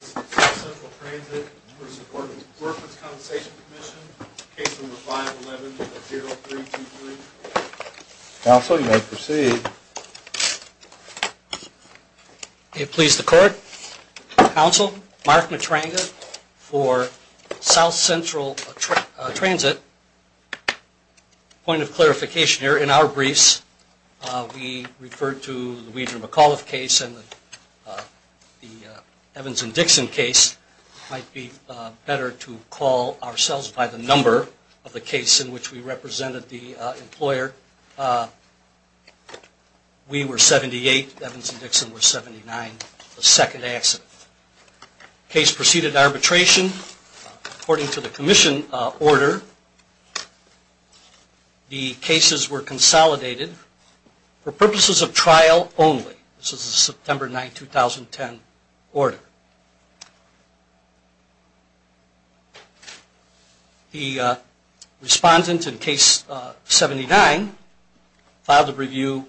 Commission, case number 511-0323. Counsel, you may proceed. May it please the Court, Counsel, Mark Matranga for South Central Transit. Point of clarification here, in our briefs we referred to the Dixon case. It might be better to call ourselves by the number of the case in which we represented the employer. We were 78, Evans and Dixon were 79, the second accident. Case proceeded arbitration according to the Commission order. The cases were consolidated for purposes of trial only. This is a September 9, 2010 order. The respondent in case 79 filed a review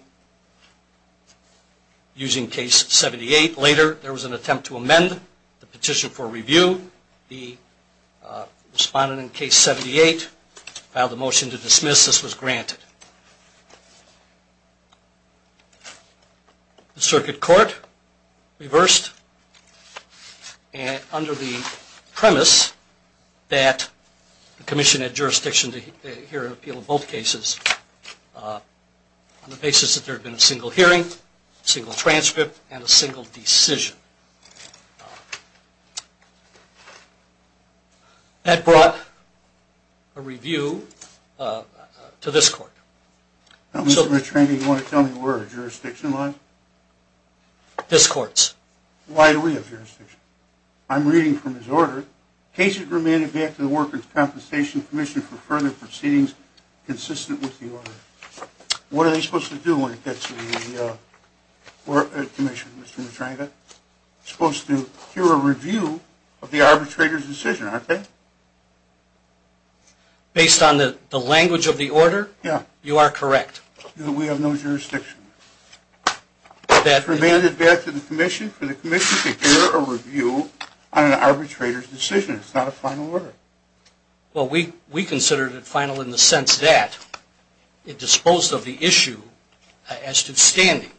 using case 78. Later there was an attempt to amend the petition for review. The respondent in case 78 filed a motion to dismiss. This was granted. The Circuit Court reversed under the premise that the Commission had jurisdiction to hear an appeal in both cases on the basis that there had been a single hearing, single transcript and a single decision. That brought a review to this Court. Mr. Matranga, do you want to tell me where the jurisdiction lies? This Court's. Why do we have jurisdiction? I'm reading from this order. Case is remanded back to the Workers' Compensation Commission for further proceedings consistent with the order. What are they supposed to do when it gets to the Commission, Mr. Matranga? They're supposed to hear a review of the arbitrator's decision, aren't they? Based on the language of the order, you are correct. We have no jurisdiction. It's remanded back to the Commission for the Commission to hear a review on an arbitrator's decision. It's not a final order. Well, we consider it final in the sense that it disposed of the issue as to standing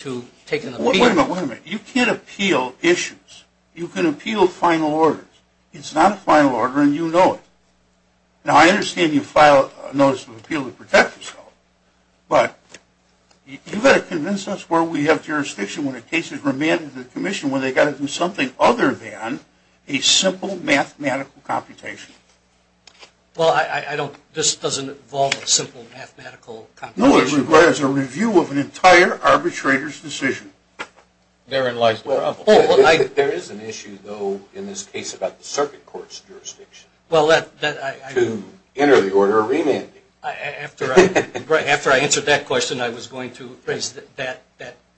to take an appeal. Wait a minute, wait a minute. You can't appeal issues. You can appeal final orders. It's not a final order and you know it. Now, I understand you filed a notice of appeal to protect yourself, but you've got to convince us where we have jurisdiction when a case is remanded to the Commission when they've got to do something other than a simple mathematical computation. Well, this doesn't involve a simple mathematical computation. No, it requires a review of an entire arbitrator's decision. Therein lies the problem. There is an issue, though, in this case about the Circuit Court's jurisdiction. To enter the order of remanding. After I answered that question, I was going to raise that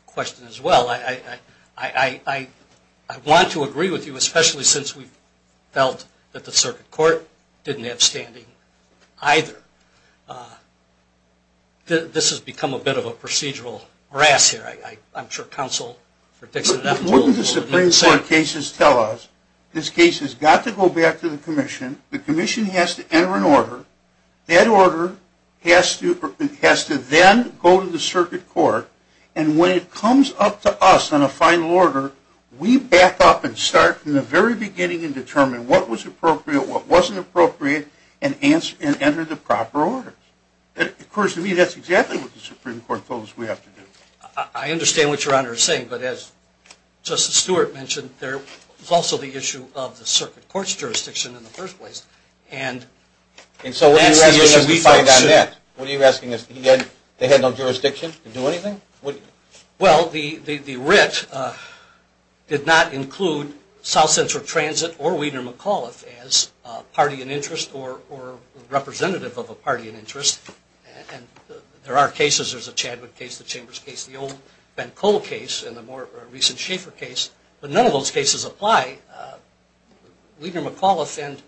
question as well. I want to agree with you, especially since we felt that the Circuit Court didn't have standing either. This has become a bit of a procedural harass here. I'm sure counsel for Dixon and Efteling will be the same. Wouldn't the Supreme Court cases tell us this case has got to go back to the Commission, the Commission has to enter an order, that order has to then go to the Circuit Court, and when it comes up to us on a final order, we back up and start from the very beginning and determine what was appropriate, what wasn't appropriate, and enter the proper order. Of course, to me, that's exactly what the Supreme Court told us we have to do. I understand what Your Honor is saying, but as Justice Stewart mentioned, there was also the issue of the Circuit Court's jurisdiction in the first place. And so what are you asking us to find on that? What are you asking us? They had no jurisdiction to do anything? Well, the writ did not include South Central Transit or Wiener McAuliffe as a party in interest or representative of a party in interest. There are cases, there's a Chadwick case, the Chambers case, the old Ben Cole case, and the more recent Schaeffer case, but none of those cases apply. Wiener McAuliffe and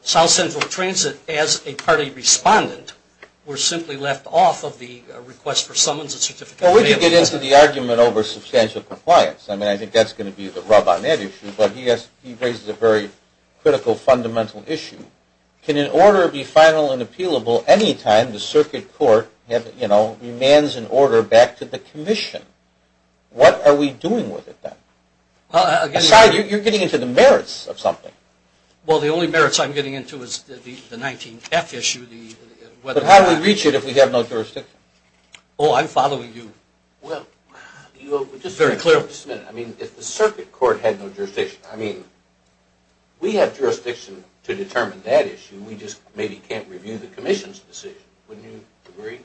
South Central Transit as a party respondent were simply left off of the request for summons and certificate of mail. Well, we could get into the argument over substantial compliance. I mean, I think that's going to be the rub on that issue, but he raises a very critical fundamental issue. Can an order be final and appealable anytime the Circuit Court, you know, demands an order back to the Commission? What are we doing with it then? Aside, you're getting into the merits of something. Well, the only merits I'm getting into is the 19-F issue. But how do we reach it if we have no jurisdiction? Oh, I'm following you very clearly. Just a minute. I mean, if the Circuit Court had no jurisdiction, I mean, we have jurisdiction to determine that issue. We just maybe can't review the Commission's decision. Wouldn't you agree?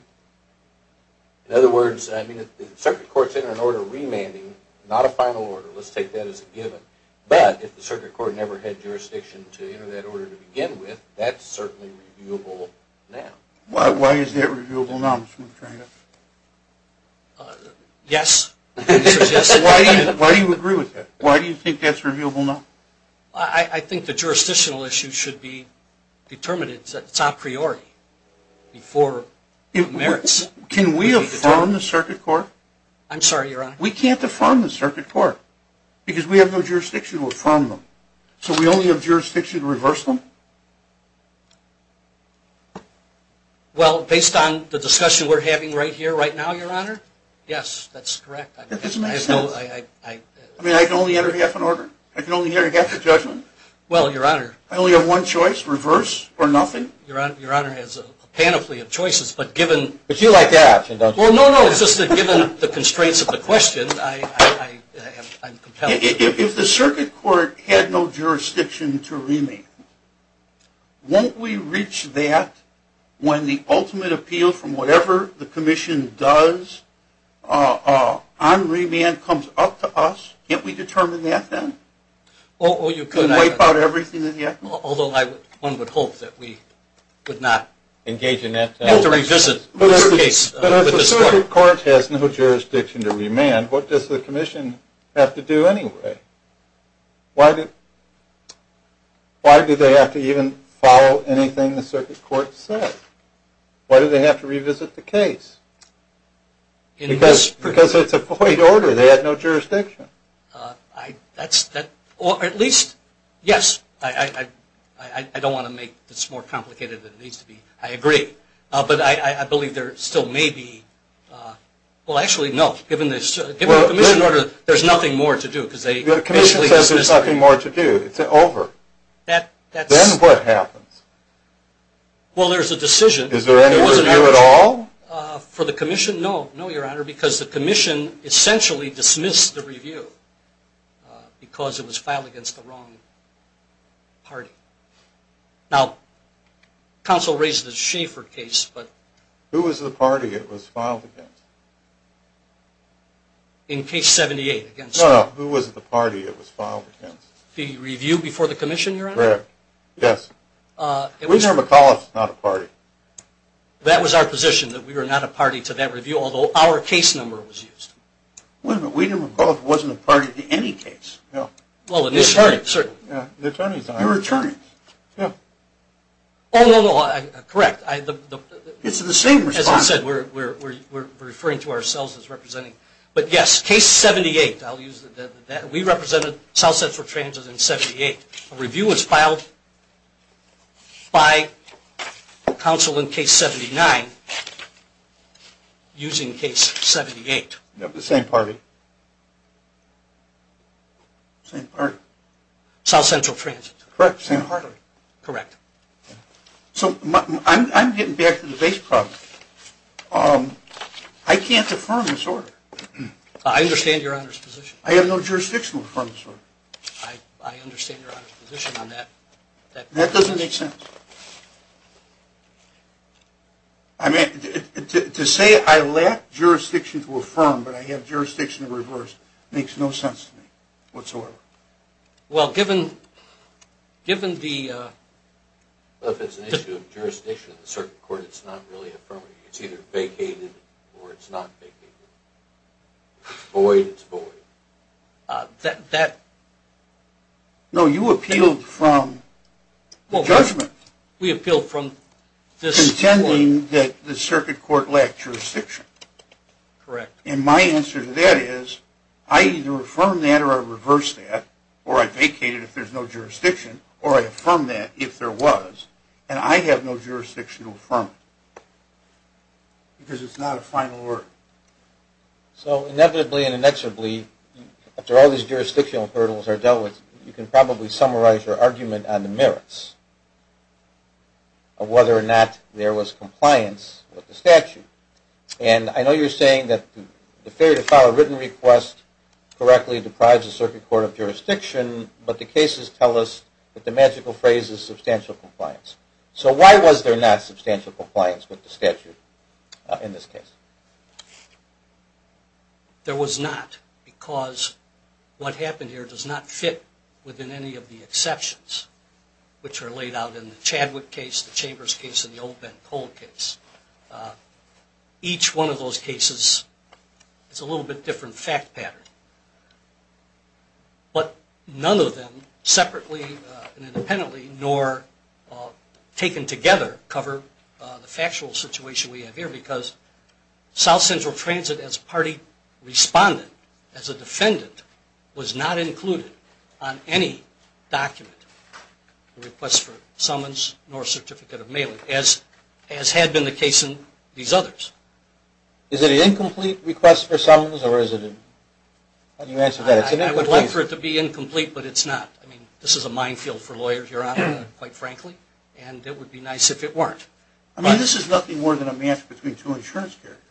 In other words, I mean, if the Circuit Court's entering an order of remanding, not a final order, let's take that as a given, but if the Circuit Court never had jurisdiction to enter that order to begin with, that's certainly reviewable now. Why is that reviewable now, Mr. McFarland? Yes. Why do you agree with that? Why do you think that's reviewable now? I think the jurisdictional issue should be determined. It's a priori before merits. Can we affirm the Circuit Court? I'm sorry, Your Honor. We can't affirm the Circuit Court because we have no jurisdiction to affirm them. So we only have jurisdiction to reverse them? Well, based on the discussion we're having right here, right now, Your Honor, yes, that's correct. That doesn't make sense. I mean, I can only enter half an order? I can only enter half a judgment? Well, Your Honor. I only have one choice, reverse or nothing? Your Honor, as a panoply of choices, but given the constraints of the question, I'm compelling. If the Circuit Court had no jurisdiction to remand, won't we reach that when the ultimate appeal from whatever the Commission does on remand comes up to us, can't we determine that then? Oh, you could. Could we wipe out everything in the act? Although one would hope that we would not. Engage in that. Have to revisit this case. But if the Circuit Court has no jurisdiction to remand, what does the Commission have to do anyway? Why do they have to even follow anything the Circuit Court says? Why do they have to revisit the case? Because it's a void order. They have no jurisdiction. At least, yes, I don't want to make this more complicated than it needs to be. I agree. But I believe there still may be – well, actually, no. Given the Commission order, there's nothing more to do. The Commission says there's nothing more to do. It's over. Then what happens? Well, there's a decision. Is there any review at all? For the Commission, no. No, Your Honor, because the Commission essentially dismissed the review because it was filed against the wrong party. Now, counsel raised the Schaefer case. Who was the party it was filed against? In case 78. No, who was the party it was filed against? The review before the Commission, Your Honor? Correct. Yes. Weiner-McCullough was not a party. That was our position, that we were not a party to that review, although our case number was used. Wait a minute. Weiner-McCullough wasn't a party to any case. No. Well, it is a party. The attorneys aren't. They're attorneys. No. Oh, no, no. Correct. It's the same response. As I said, we're referring to ourselves as representing. But, yes, case 78. I'll use that. We represented South Central Transit in 78. A review was filed by counsel in case 79 using case 78. The same party. Same party. South Central Transit. Correct. Same party. Correct. So I'm getting back to the base problem. I can't affirm this order. I understand Your Honor's position. I have no jurisdiction to affirm this order. I understand Your Honor's position on that. That doesn't make sense. To say I lack jurisdiction to affirm, but I have jurisdiction to reverse, makes no sense to me whatsoever. Well, given the... Well, if it's an issue of jurisdiction in a certain court, it's not really affirmative. It's either vacated or it's not vacated. It's void. It's void. That... No, you appealed from the judgment. We appealed from this court. Contending that the circuit court lacked jurisdiction. Correct. And my answer to that is I either affirm that or I reverse that, or I vacate it if there's no jurisdiction, or I affirm that if there was, and I have no jurisdiction to affirm it because it's not a final order. So inevitably and inexorably, after all these jurisdictional hurdles are dealt with, you can probably summarize your argument on the merits of whether or not there was compliance with the statute. And I know you're saying that the failure to file a written request correctly deprives the circuit court of jurisdiction, but the cases tell us that the magical phrase is substantial compliance. So why was there not substantial compliance with the statute in this case? There was not because what happened here does not fit within any of the exceptions which are laid out in the Chadwick case, the Chambers case, and the old Ben Cole case. Each one of those cases is a little bit different fact pattern, but none of them separately and independently nor taken together cover the factual situation we have here because South Central Transit as a party responded, as a defendant, was not included on any document, the request for summons nor certificate of mailing, as had been the case in these others. Is it an incomplete request for summons or is it? I would like for it to be incomplete, but it's not. This is a minefield for lawyers, Your Honor, quite frankly, and it would be nice if it weren't. I mean, this is nothing more than a match between two insurance characters.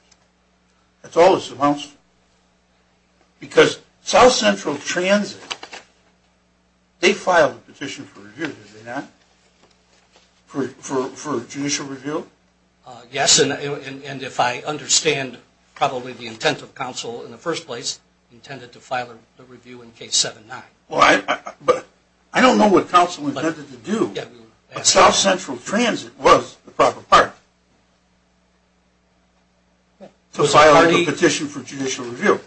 That's all this amounts to. Because South Central Transit, they filed a petition for review, did they not? For judicial review? Yes, and if I understand probably the intent of counsel in the first place, intended to file a review in case 7-9. Well, I don't know what counsel intended to do, but South Central Transit was the proper part to file a petition for judicial review.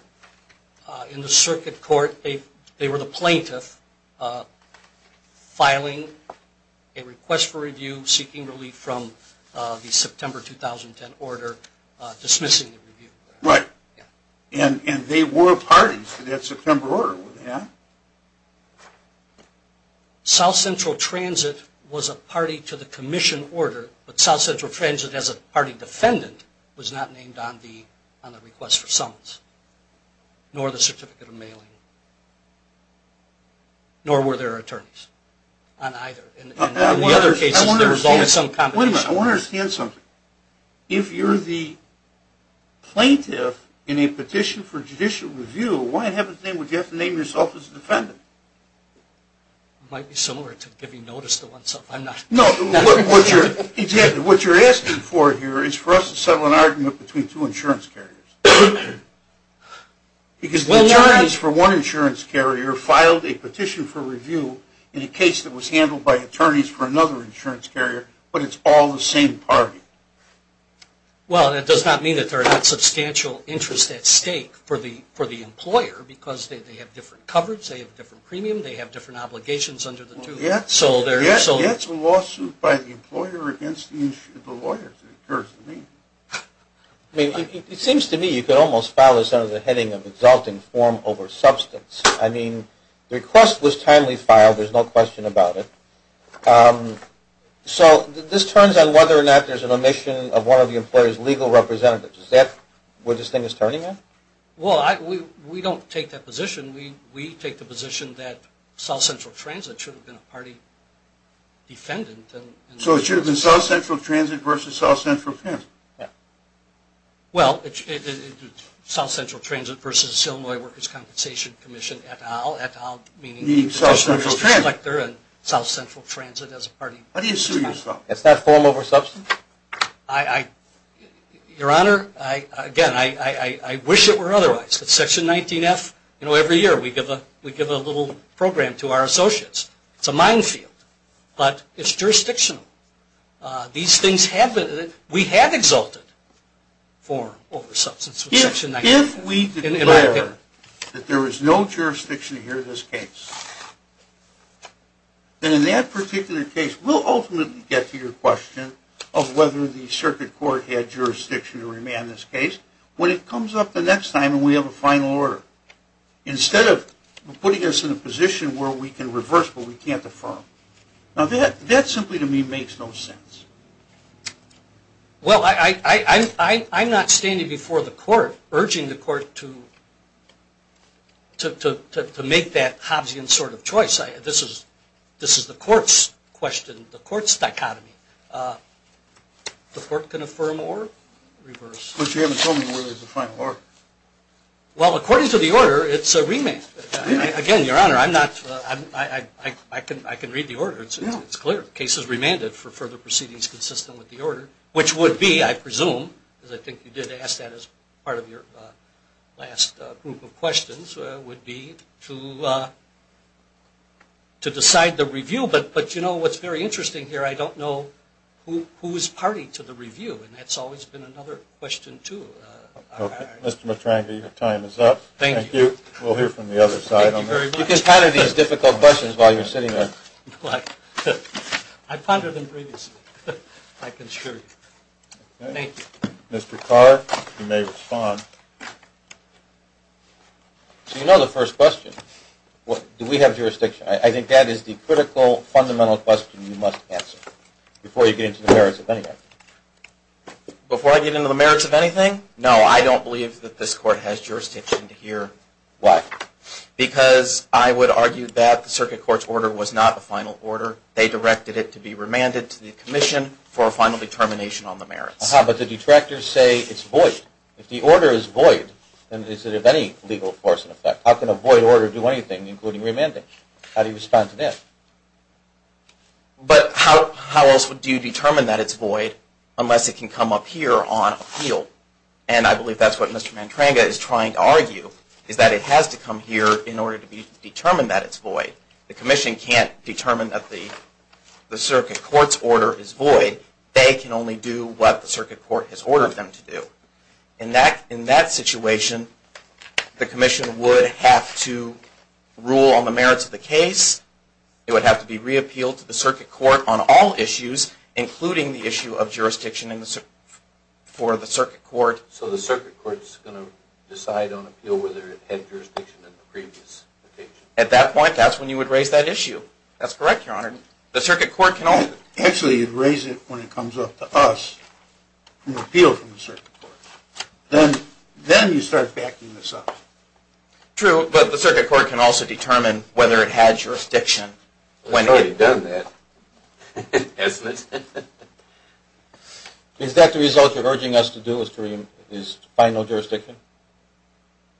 In the circuit court, they were the plaintiff filing a request for review, seeking relief from the September 2010 order dismissing the review. Right, and they were parties to that September order, were they not? South Central Transit was a party to the commission order, but South Central Transit as a party defendant was not named on the request for summons, nor the certificate of mailing, nor were there attorneys on either. I want to understand something. If you're the plaintiff in a petition for judicial review, why in heaven's name would you have to name yourself as a defendant? It might be similar to giving notice to oneself. No, what you're asking for here is for us to settle an argument between two insurance carriers. Because the attorneys for one insurance carrier filed a petition for review in a case that was handled by attorneys for another insurance carrier, but it's all the same party. Well, that does not mean that there are not substantial interests at stake for the employer, because they have different coverage, they have different premium, they have different obligations under the two. Yet it's a lawsuit by the employer against the lawyers, it occurs to me. It seems to me you could almost file this under the heading of exalting form over substance. I mean, the request was timely filed, there's no question about it. So this turns on whether or not there's an omission of one of the employer's legal representatives. Is that where this thing is turning at? Well, we don't take that position. We take the position that South Central Transit should have been a party defendant. So it should have been South Central Transit versus South Central Transit. Well, it's South Central Transit versus Illinois Workers' Compensation Commission, et al, et al, meaning the Commissioner's Director and South Central Transit as a party. What do you assume is wrong? Is that form over substance? Your Honor, again, I wish it were otherwise. At Section 19F, you know, every year we give a little program to our associates. It's a minefield, but it's jurisdictional. These things happen. We have exalted form over substance for Section 19. If we declare that there is no jurisdiction here in this case, then in that particular case, we'll ultimately get to your question of whether the circuit court had jurisdiction to remand this case when it comes up the next time and we have a final order, instead of putting us in a position where we can reverse but we can't affirm. Now, that simply to me makes no sense. Well, I'm not standing before the court urging the court to make that Hobbesian sort of choice. This is the court's question, the court's dichotomy. The court can affirm or reverse. But you haven't told me whether there's a final order. Well, according to the order, it's a remand. Again, Your Honor, I can read the order. It's clear. The case is remanded for further proceedings consistent with the order, which would be, I presume, as I think you did ask that as part of your last group of questions, would be to decide the review. But, you know, what's very interesting here, I don't know who is party to the review, and that's always been another question, too. Okay. Mr. Matrangi, your time is up. Thank you. Thank you. We'll hear from the other side on that. Thank you very much. You can ponder these difficult questions while you're sitting there. I pondered them previously. I can assure you. Thank you. Mr. Carr, you may respond. So you know the first question. Do we have jurisdiction? I think that is the critical, fundamental question you must answer before you get into the merits of anything. Before I get into the merits of anything? No, I don't believe that this Court has jurisdiction here. Why? Because I would argue that the Circuit Court's order was not the final order. They directed it to be remanded to the Commission for a final determination on the merits. But the detractors say it's void. If the order is void, then is it of any legal force in effect? How can a void order do anything, including remanding? How do you respond to that? But how else do you determine that it's void unless it can come up here on appeal? And I believe that's what Mr. Mantranga is trying to argue, is that it has to come here in order to be determined that it's void. The Commission can't determine that the Circuit Court's order is void. They can only do what the Circuit Court has ordered them to do. In that situation, the Commission would have to rule on the merits of the case. It would have to be reappealed to the Circuit Court on all issues, including the issue of jurisdiction for the Circuit Court. So the Circuit Court's going to decide on appeal whether it had jurisdiction in the previous application? At that point, that's when you would raise that issue. That's correct, Your Honor. The Circuit Court can only... Actually, you'd raise it when it comes up to us on appeal from the Circuit Court. Then you start backing this up. True, but the Circuit Court can also determine whether it had jurisdiction when it... It's already done that, isn't it? Is that the result you're urging us to do, Mr. Kareem, is find no jurisdiction?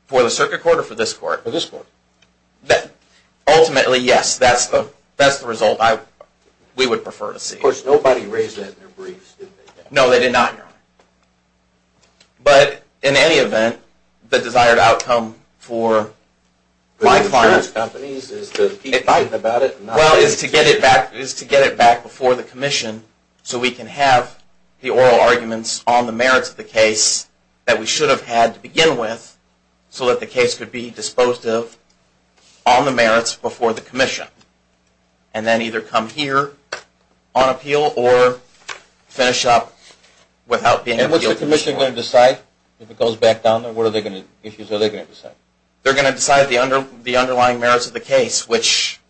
For the Circuit Court or for this Court? For this Court. Ultimately, yes, that's the result we would prefer to see. Of course, nobody raised that in their briefs, did they? No, they did not, Your Honor. But in any event, the desired outcome for my client... The insurance companies is to keep fighting about it and not... Well, is to get it back before the Commission so we can have the oral arguments on the merits of the case that we should have had to begin with so that the case could be disposed of on the merits before the Commission and then either come here on appeal or finish up without being... And what's the Commission going to decide if it goes back down there? What are they going to decide? They're going to decide the underlying merits of the case, which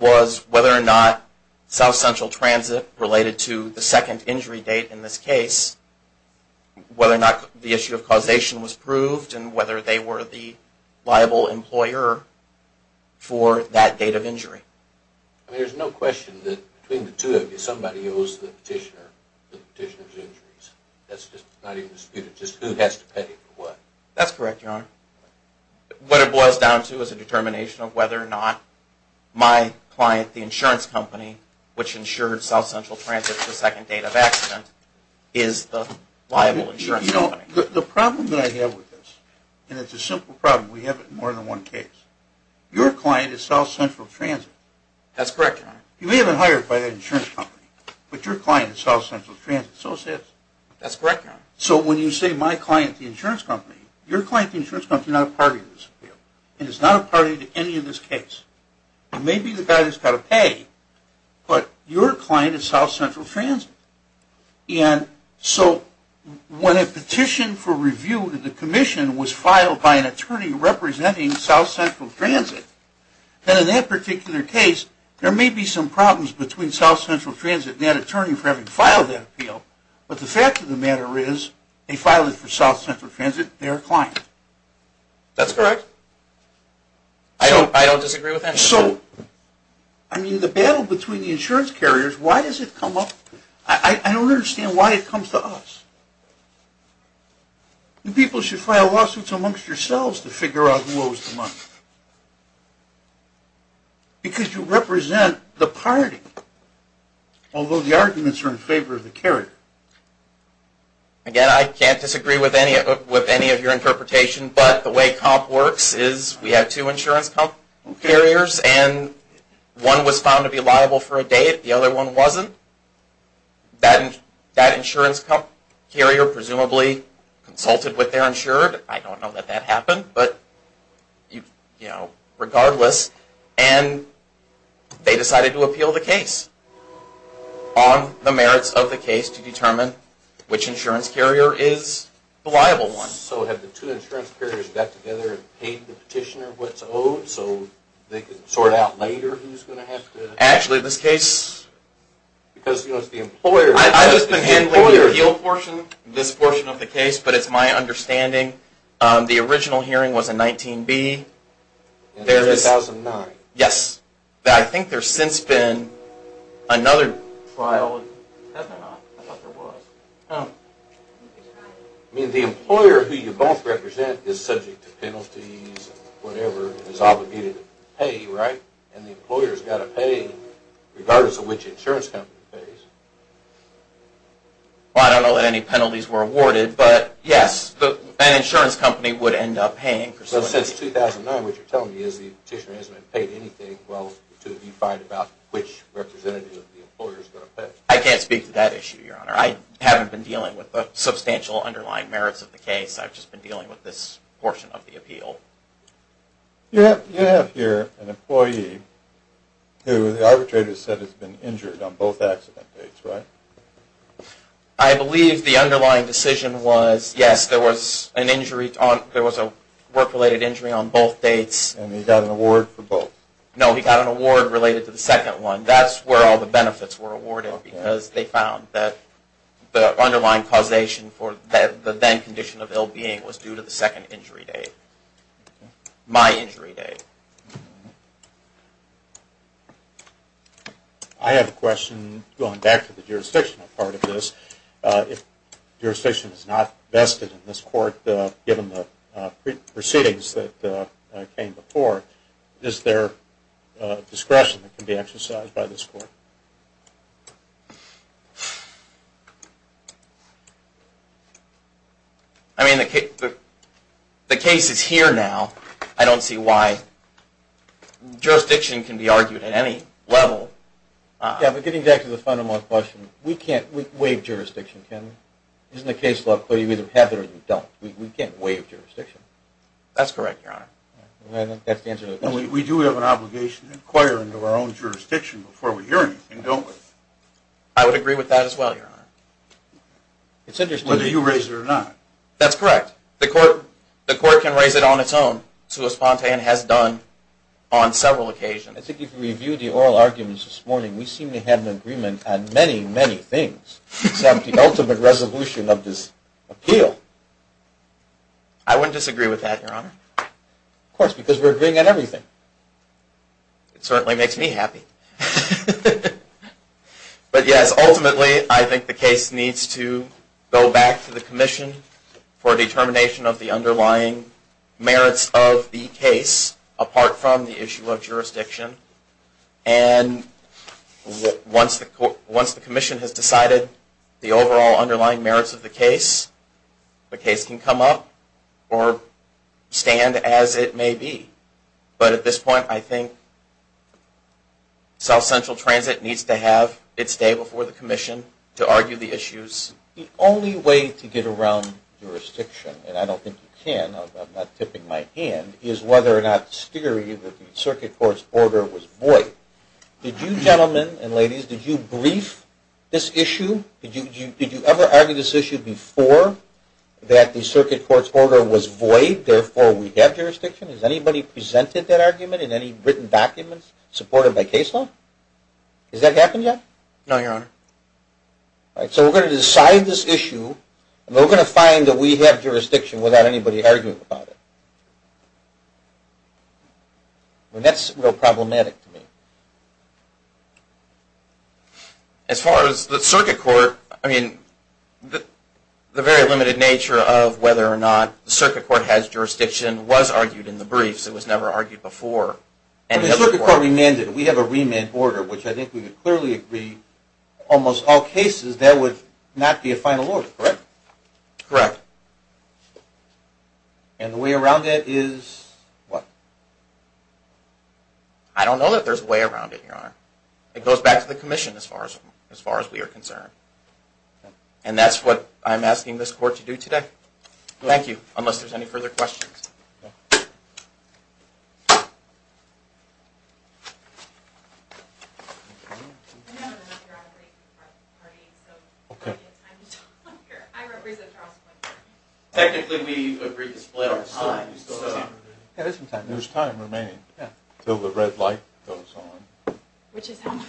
was whether or not South Central Transit related to the second injury date in this case, whether or not the issue of causation was proved and whether they were the liable employer for that date of injury. I mean, there's no question that between the two of you, somebody owes the petitioner the petitioner's injuries. That's just not even disputed, just who has to pay for what. That's correct, Your Honor. What it boils down to is a determination of whether or not my client, the insurance company which insured South Central Transit related to the second date of accident is the liable insurance company. You know, the problem that I have with this, and it's a simple problem, we have it in more than one case. Your client is South Central Transit. That's correct, Your Honor. You may have been hired by that insurance company, but your client is South Central Transit, so it says. That's correct, Your Honor. So when you say my client, the insurance company, your client, the insurance company, is not a party to this appeal and is not a party to any of this case. It may be the guy that's got to pay, but your client is South Central Transit. And so when a petition for review to the commission was filed by an attorney representing South Central Transit, then in that particular case there may be some problems between South Central Transit and that attorney for having filed that appeal, but the fact of the matter is they filed it for South Central Transit, their client. That's correct. I don't disagree with that. And so, I mean, the battle between the insurance carriers, why does it come up? I don't understand why it comes to us. You people should file lawsuits amongst yourselves to figure out who owes the money because you represent the party, although the arguments are in favor of the carrier. Again, I can't disagree with any of your interpretation, but the way comp works is we have two insurance carriers and one was found to be liable for a day, the other one wasn't. That insurance carrier presumably consulted with their insured. I don't know that that happened, but, you know, regardless. And they decided to appeal the case on the merits of the case to determine which insurance carrier is the liable one. So have the two insurance carriers got together and paid the petitioner what's owed so they can sort out later who's going to have to? Actually, this case. Because, you know, it's the employer. I've just been handling the appeal portion, this portion of the case, but it's my understanding the original hearing was in 19B. In 2009. Yes. I think there's since been another trial. Has there not? I thought there was. I don't know. I mean, the employer who you both represent is subject to penalties and whatever and is obligated to pay, right? And the employer's got to pay regardless of which insurance company pays. Well, I don't know that any penalties were awarded, but, yes, an insurance company would end up paying. But since 2009, what you're telling me is the petitioner hasn't paid anything to be fired about which representative of the employer is going to pay. I can't speak to that issue, Your Honor. I haven't been dealing with the substantial underlying merits of the case. I've just been dealing with this portion of the appeal. You have here an employee who the arbitrator said has been injured on both accident dates, right? I believe the underlying decision was, yes, there was a work-related injury on both dates. And he got an award for both? No, he got an award related to the second one. And that's where all the benefits were awarded because they found that the underlying causation for the then condition of ill-being was due to the second injury date, my injury date. I have a question going back to the jurisdictional part of this. If jurisdiction is not vested in this court given the proceedings that came before, is there discretion that can be exercised by this court? I mean, the case is here now. I don't see why jurisdiction can be argued at any level. Yeah, but getting back to the fundamental question, we can't waive jurisdiction, can we? Isn't the case law clear? You either have it or you don't. We can't waive jurisdiction. That's correct, Your Honor. We do have an obligation to inquire into our own jurisdiction before we hear anything, don't we? I would agree with that as well, Your Honor. Whether you raise it or not. That's correct. The court can raise it on its own. Sue Ospontan has done on several occasions. I think if you review the oral arguments this morning, we seem to have an agreement on many, many things, except the ultimate resolution of this appeal. I wouldn't disagree with that, Your Honor. Of course, because we're agreeing on everything. It certainly makes me happy. But, yes, ultimately I think the case needs to go back to the commission for determination of the underlying merits of the case, apart from the issue of jurisdiction. And once the commission has decided the overall underlying merits of the case, the case can come up or stand as it may be. But at this point, I think South Central Transit needs to have its day before the commission to argue the issues. The only way to get around jurisdiction, and I don't think you can, I'm not tipping my hand, is whether or not the theory that the circuit court's order was void. Did you gentlemen and ladies, did you brief this issue? Did you ever argue this issue before that the circuit court's order was void, therefore we have jurisdiction? Has anybody presented that argument in any written documents supported by case law? Has that happened yet? No, Your Honor. All right, so we're going to decide this issue, and we're going to find that we have jurisdiction without anybody arguing about it. That's real problematic to me. As far as the circuit court, I mean, the very limited nature of whether or not the circuit court has jurisdiction was argued in the briefs. It was never argued before. And the circuit court remanded. We have a remand order, which I think we would clearly agree, almost all cases there would not be a final order, correct? Correct. And the way around it is what? I don't know that there's a way around it, Your Honor. It goes back to the commission as far as we are concerned. And that's what I'm asking this court to do today. Thank you, unless there's any further questions. Okay. Technically, we agree to split up. There's time remaining until the red light goes on. Which is how much?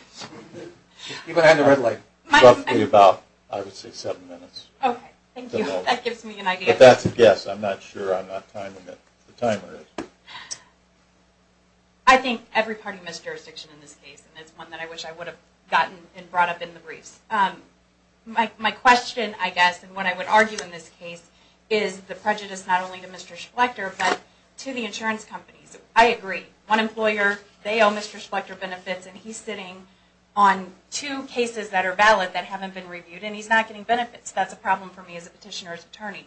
Roughly about, I would say, seven minutes. Okay, thank you. That gives me an idea. If that's a guess, I'm not sure. I'm not timing it. The timer is. I think every party missed jurisdiction in this case, and it's one that I wish I would have gotten and brought up in the briefs. My question, I guess, and what I would argue in this case, is the prejudice not only to Mr. Schlechter, but to the insurance companies. I agree. One employer, they owe Mr. Schlechter benefits, and he's sitting on two cases that are valid that haven't been reviewed, and he's not getting benefits. That's a problem for me as a petitioner's attorney.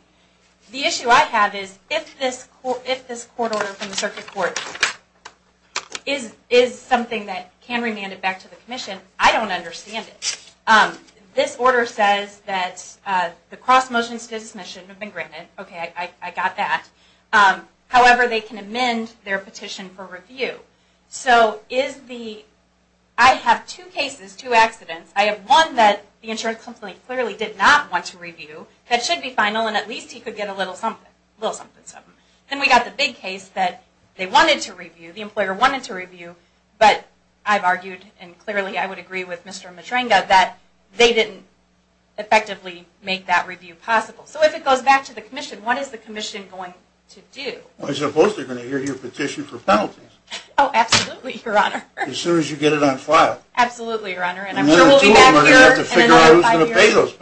The issue I have is, if this court order from the circuit court is something that can be remanded back to the commission, I don't understand it. This order says that the cross motions to dismission have been granted. Okay, I got that. However, they can amend their petition for review. So, I have two cases, two accidents. I have one that the insurance company clearly did not want to review that should be final, and at least he could get a little something. Then we got the big case that they wanted to review, the employer wanted to review, but I've argued, and clearly I would agree with Mr. Matrenga, that they didn't effectively make that review possible. So, if it goes back to the commission, what is the commission going to do? Well, I suppose they're going to hear your petition for penalties. Oh, absolutely, Your Honor. As soon as you get it on file. Absolutely, Your Honor. And I'm sure we'll be back here in another five years.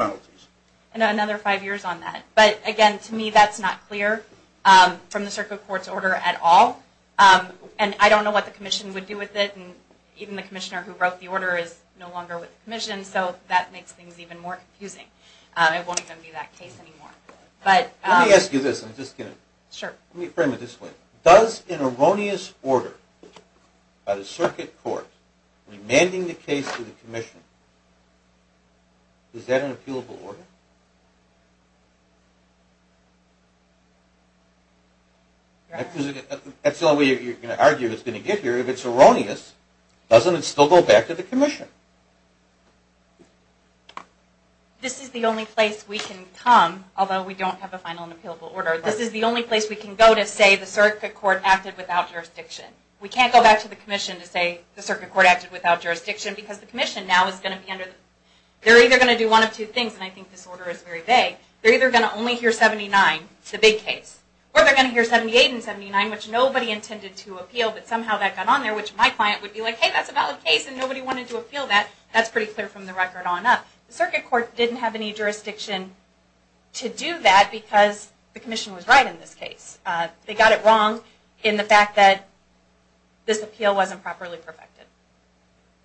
And another five years on that. But, again, to me that's not clear from the circuit court's order at all, and I don't know what the commission would do with it, and even the commissioner who wrote the order is no longer with the commission, so that makes things even more confusing. It won't even be that case anymore. Let me ask you this, I'm just kidding. Sure. Let me frame it this way. Does an erroneous order by the circuit court, remanding the case to the commission, is that an appealable order? That's the only way you're going to argue it's going to get here. If it's erroneous, doesn't it still go back to the commission? This is the only place we can come, although we don't have a final and appealable order. This is the only place we can go to say the circuit court acted without jurisdiction. We can't go back to the commission to say the circuit court acted without jurisdiction, because the commission now is going to be under, they're either going to do one of two things, and I think this order is very vague. They're either going to only hear 79, the big case, or they're going to hear 78 and 79, which nobody intended to appeal, but somehow that got on there, which my client would be like, hey, that's a valid case, and nobody wanted to appeal that. That's pretty clear from the record on up. The circuit court didn't have any jurisdiction to do that, because the commission was right in this case. They got it wrong in the fact that this appeal wasn't properly perfected.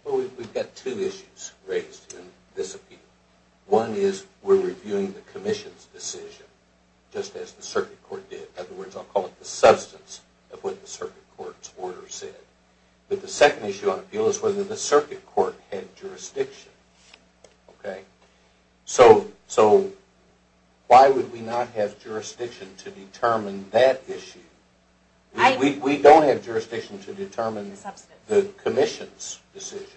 Well, we've got two issues raised in this appeal. One is we're reviewing the commission's decision, just as the circuit court did. In other words, I'll call it the substance of what the circuit court's order said. But the second issue on appeal is whether the circuit court had jurisdiction, okay? So why would we not have jurisdiction to determine that issue? We don't have jurisdiction to determine the commission's decision.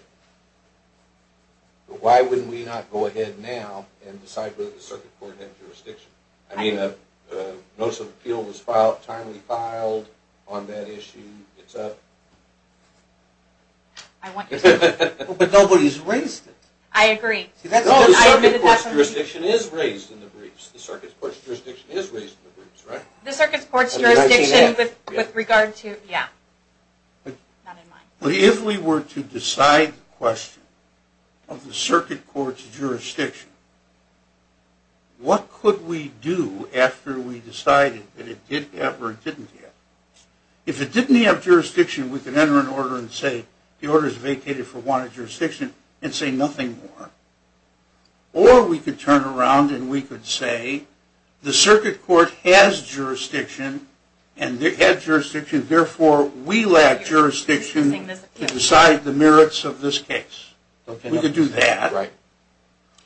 Why wouldn't we not go ahead now and decide whether the circuit court had jurisdiction? I mean, notice of appeal was timely filed on that issue. It's up. I want you to. But nobody's raised it. I agree. The circuit court's jurisdiction is raised in the briefs. The circuit court's jurisdiction is raised in the briefs, right? The circuit court's jurisdiction with regard to, yeah. If we were to decide the question of the circuit court's jurisdiction, what could we do after we decided that it did have or didn't have? If it didn't have jurisdiction, we could enter an order and say, the order's vacated for wanted jurisdiction and say nothing more. Or we could turn around and we could say, the circuit court has jurisdiction and it had jurisdiction, therefore we lack jurisdiction to decide the merits of this case. We could do that.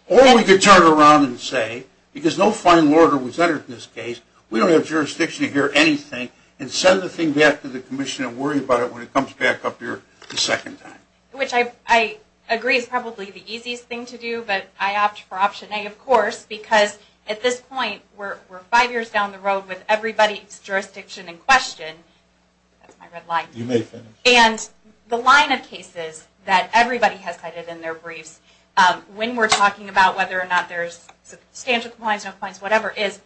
Or we could turn around and say, because no final order was entered in this case, we don't have jurisdiction to hear anything and send the thing back to the commission and worry about it when it comes back up here a second time. Which I agree is probably the easiest thing to do, but I opt for option A, of course, because at this point we're five years down the road with everybody's jurisdiction in question. That's my red line. You may finish. And the line of cases that everybody has cited in their briefs, when we're talking about whether or not there's substantial compliance, no compliance, whatever, is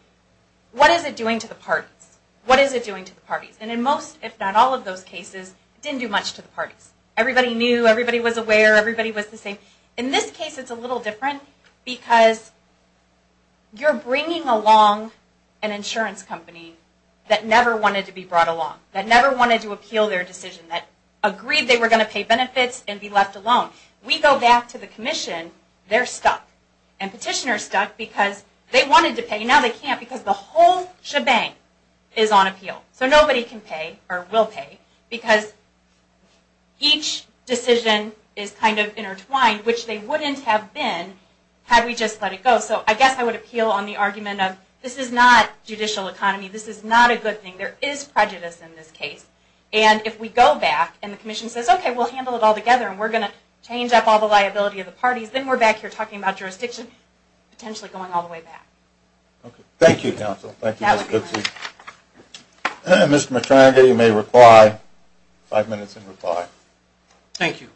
what is it doing to the parties? What is it doing to the parties? And in most, if not all of those cases, it didn't do much to the parties. Everybody knew, everybody was aware, everybody was the same. In this case it's a little different because you're bringing along an insurance company that never wanted to be brought along, that never wanted to appeal their decision, that agreed they were going to pay benefits and be left alone. We go back to the commission, they're stuck. And petitioners are stuck because they wanted to pay, now they can't because the whole shebang is on appeal. So nobody can pay, or will pay, because each decision is kind of intertwined, which they wouldn't have been had we just let it go. So I guess I would appeal on the argument of this is not judicial economy, this is not a good thing. There is prejudice in this case. And if we go back and the commission says, okay, we'll handle it all together and we're going to change up all the liability of the parties, then we're back here talking about jurisdiction, potentially going all the way back. Thank you, counsel. Thank you, Mr. Goodsey. Mr. McTryger, you may reply. Five minutes and reply. Thank you.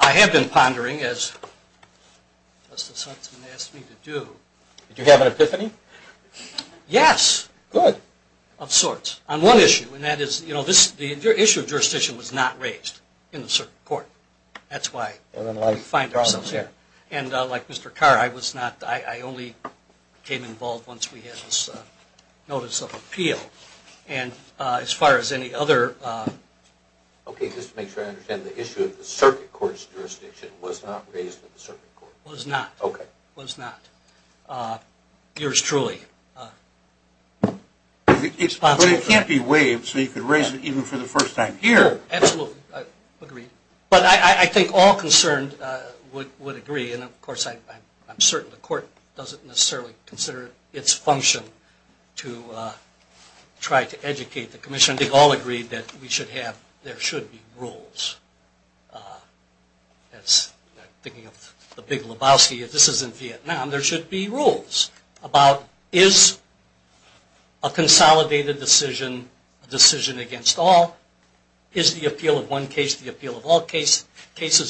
I have been pondering, as Justice Huntsman asked me to do. Did you have an epiphany? Yes. Good. Of sorts. On one issue, and that is, you know, the issue of jurisdiction was not raised in the court. That's why we find ourselves here. And like Mr. Carr, I was not, I only became involved once we had this notice of appeal. And as far as any other. Okay, just to make sure I understand, the issue of the circuit court's jurisdiction was not raised in the circuit court. Was not. Okay. Was not. Yours truly. But it can't be waived so you can raise it even for the first time here. Absolutely. Agreed. But I think all concerned would agree, and of course I'm certain the court doesn't necessarily consider its function to try to educate the commission. They've all agreed that we should have, there should be rules. That's, thinking of the big Lebowski, if this is in Vietnam, there should be rules about is a consolidated decision a decision against all? Is the appeal of one case the appeal of all cases,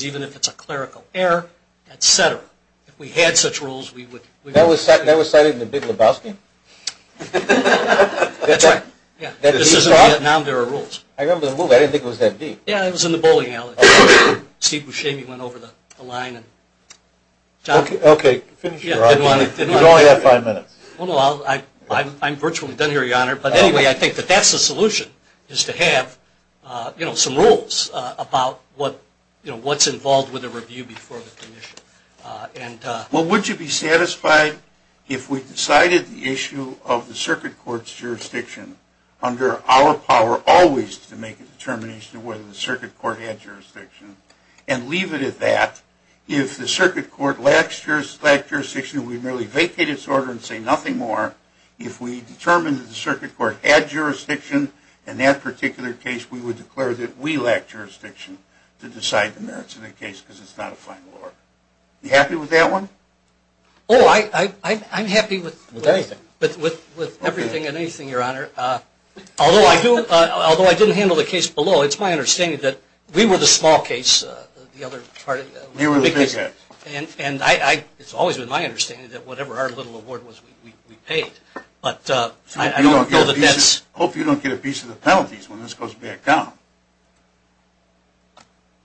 even if it's a clerical error, et cetera. If we had such rules, we would. That was cited in the big Lebowski? That's right. Yeah. This is in Vietnam, there are rules. I remember the rule, I didn't think it was that deep. Yeah, it was in the bowling alley. Steve Buscemi went over the line. Okay, finish your argument. You only have five minutes. I'm virtually done here, Your Honor. But anyway, I think that that's the solution, is to have some rules about what's involved with a review before the commission. Well, would you be satisfied if we decided the issue of the circuit court's jurisdiction under our power always to make a determination of whether the circuit court had jurisdiction, and leave it at that, if the circuit court lacks jurisdiction, we merely vacate its order and say nothing more. If we determine that the circuit court had jurisdiction in that particular case, we would declare that we lack jurisdiction to decide the merits of the case, because it's not a final order. Are you happy with that one? Oh, I'm happy with everything and anything, Your Honor. Although I didn't handle the case below, it's my understanding that we were the small case. You were the big case. And it's always been my understanding that whatever our little award was, we paid. But I don't know that that's – Hopefully you don't get a piece of the penalties when this goes back down.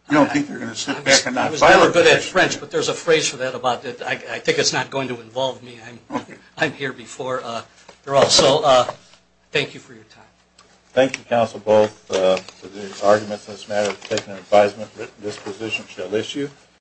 You don't think they're going to sit back and not file a case. I was never good at French, but there's a phrase for that. I think it's not going to involve me. I'm here before you're all. So thank you for your time. Thank you, counsel, both, for the arguments in this matter. We've taken an advisement that this position shall issue.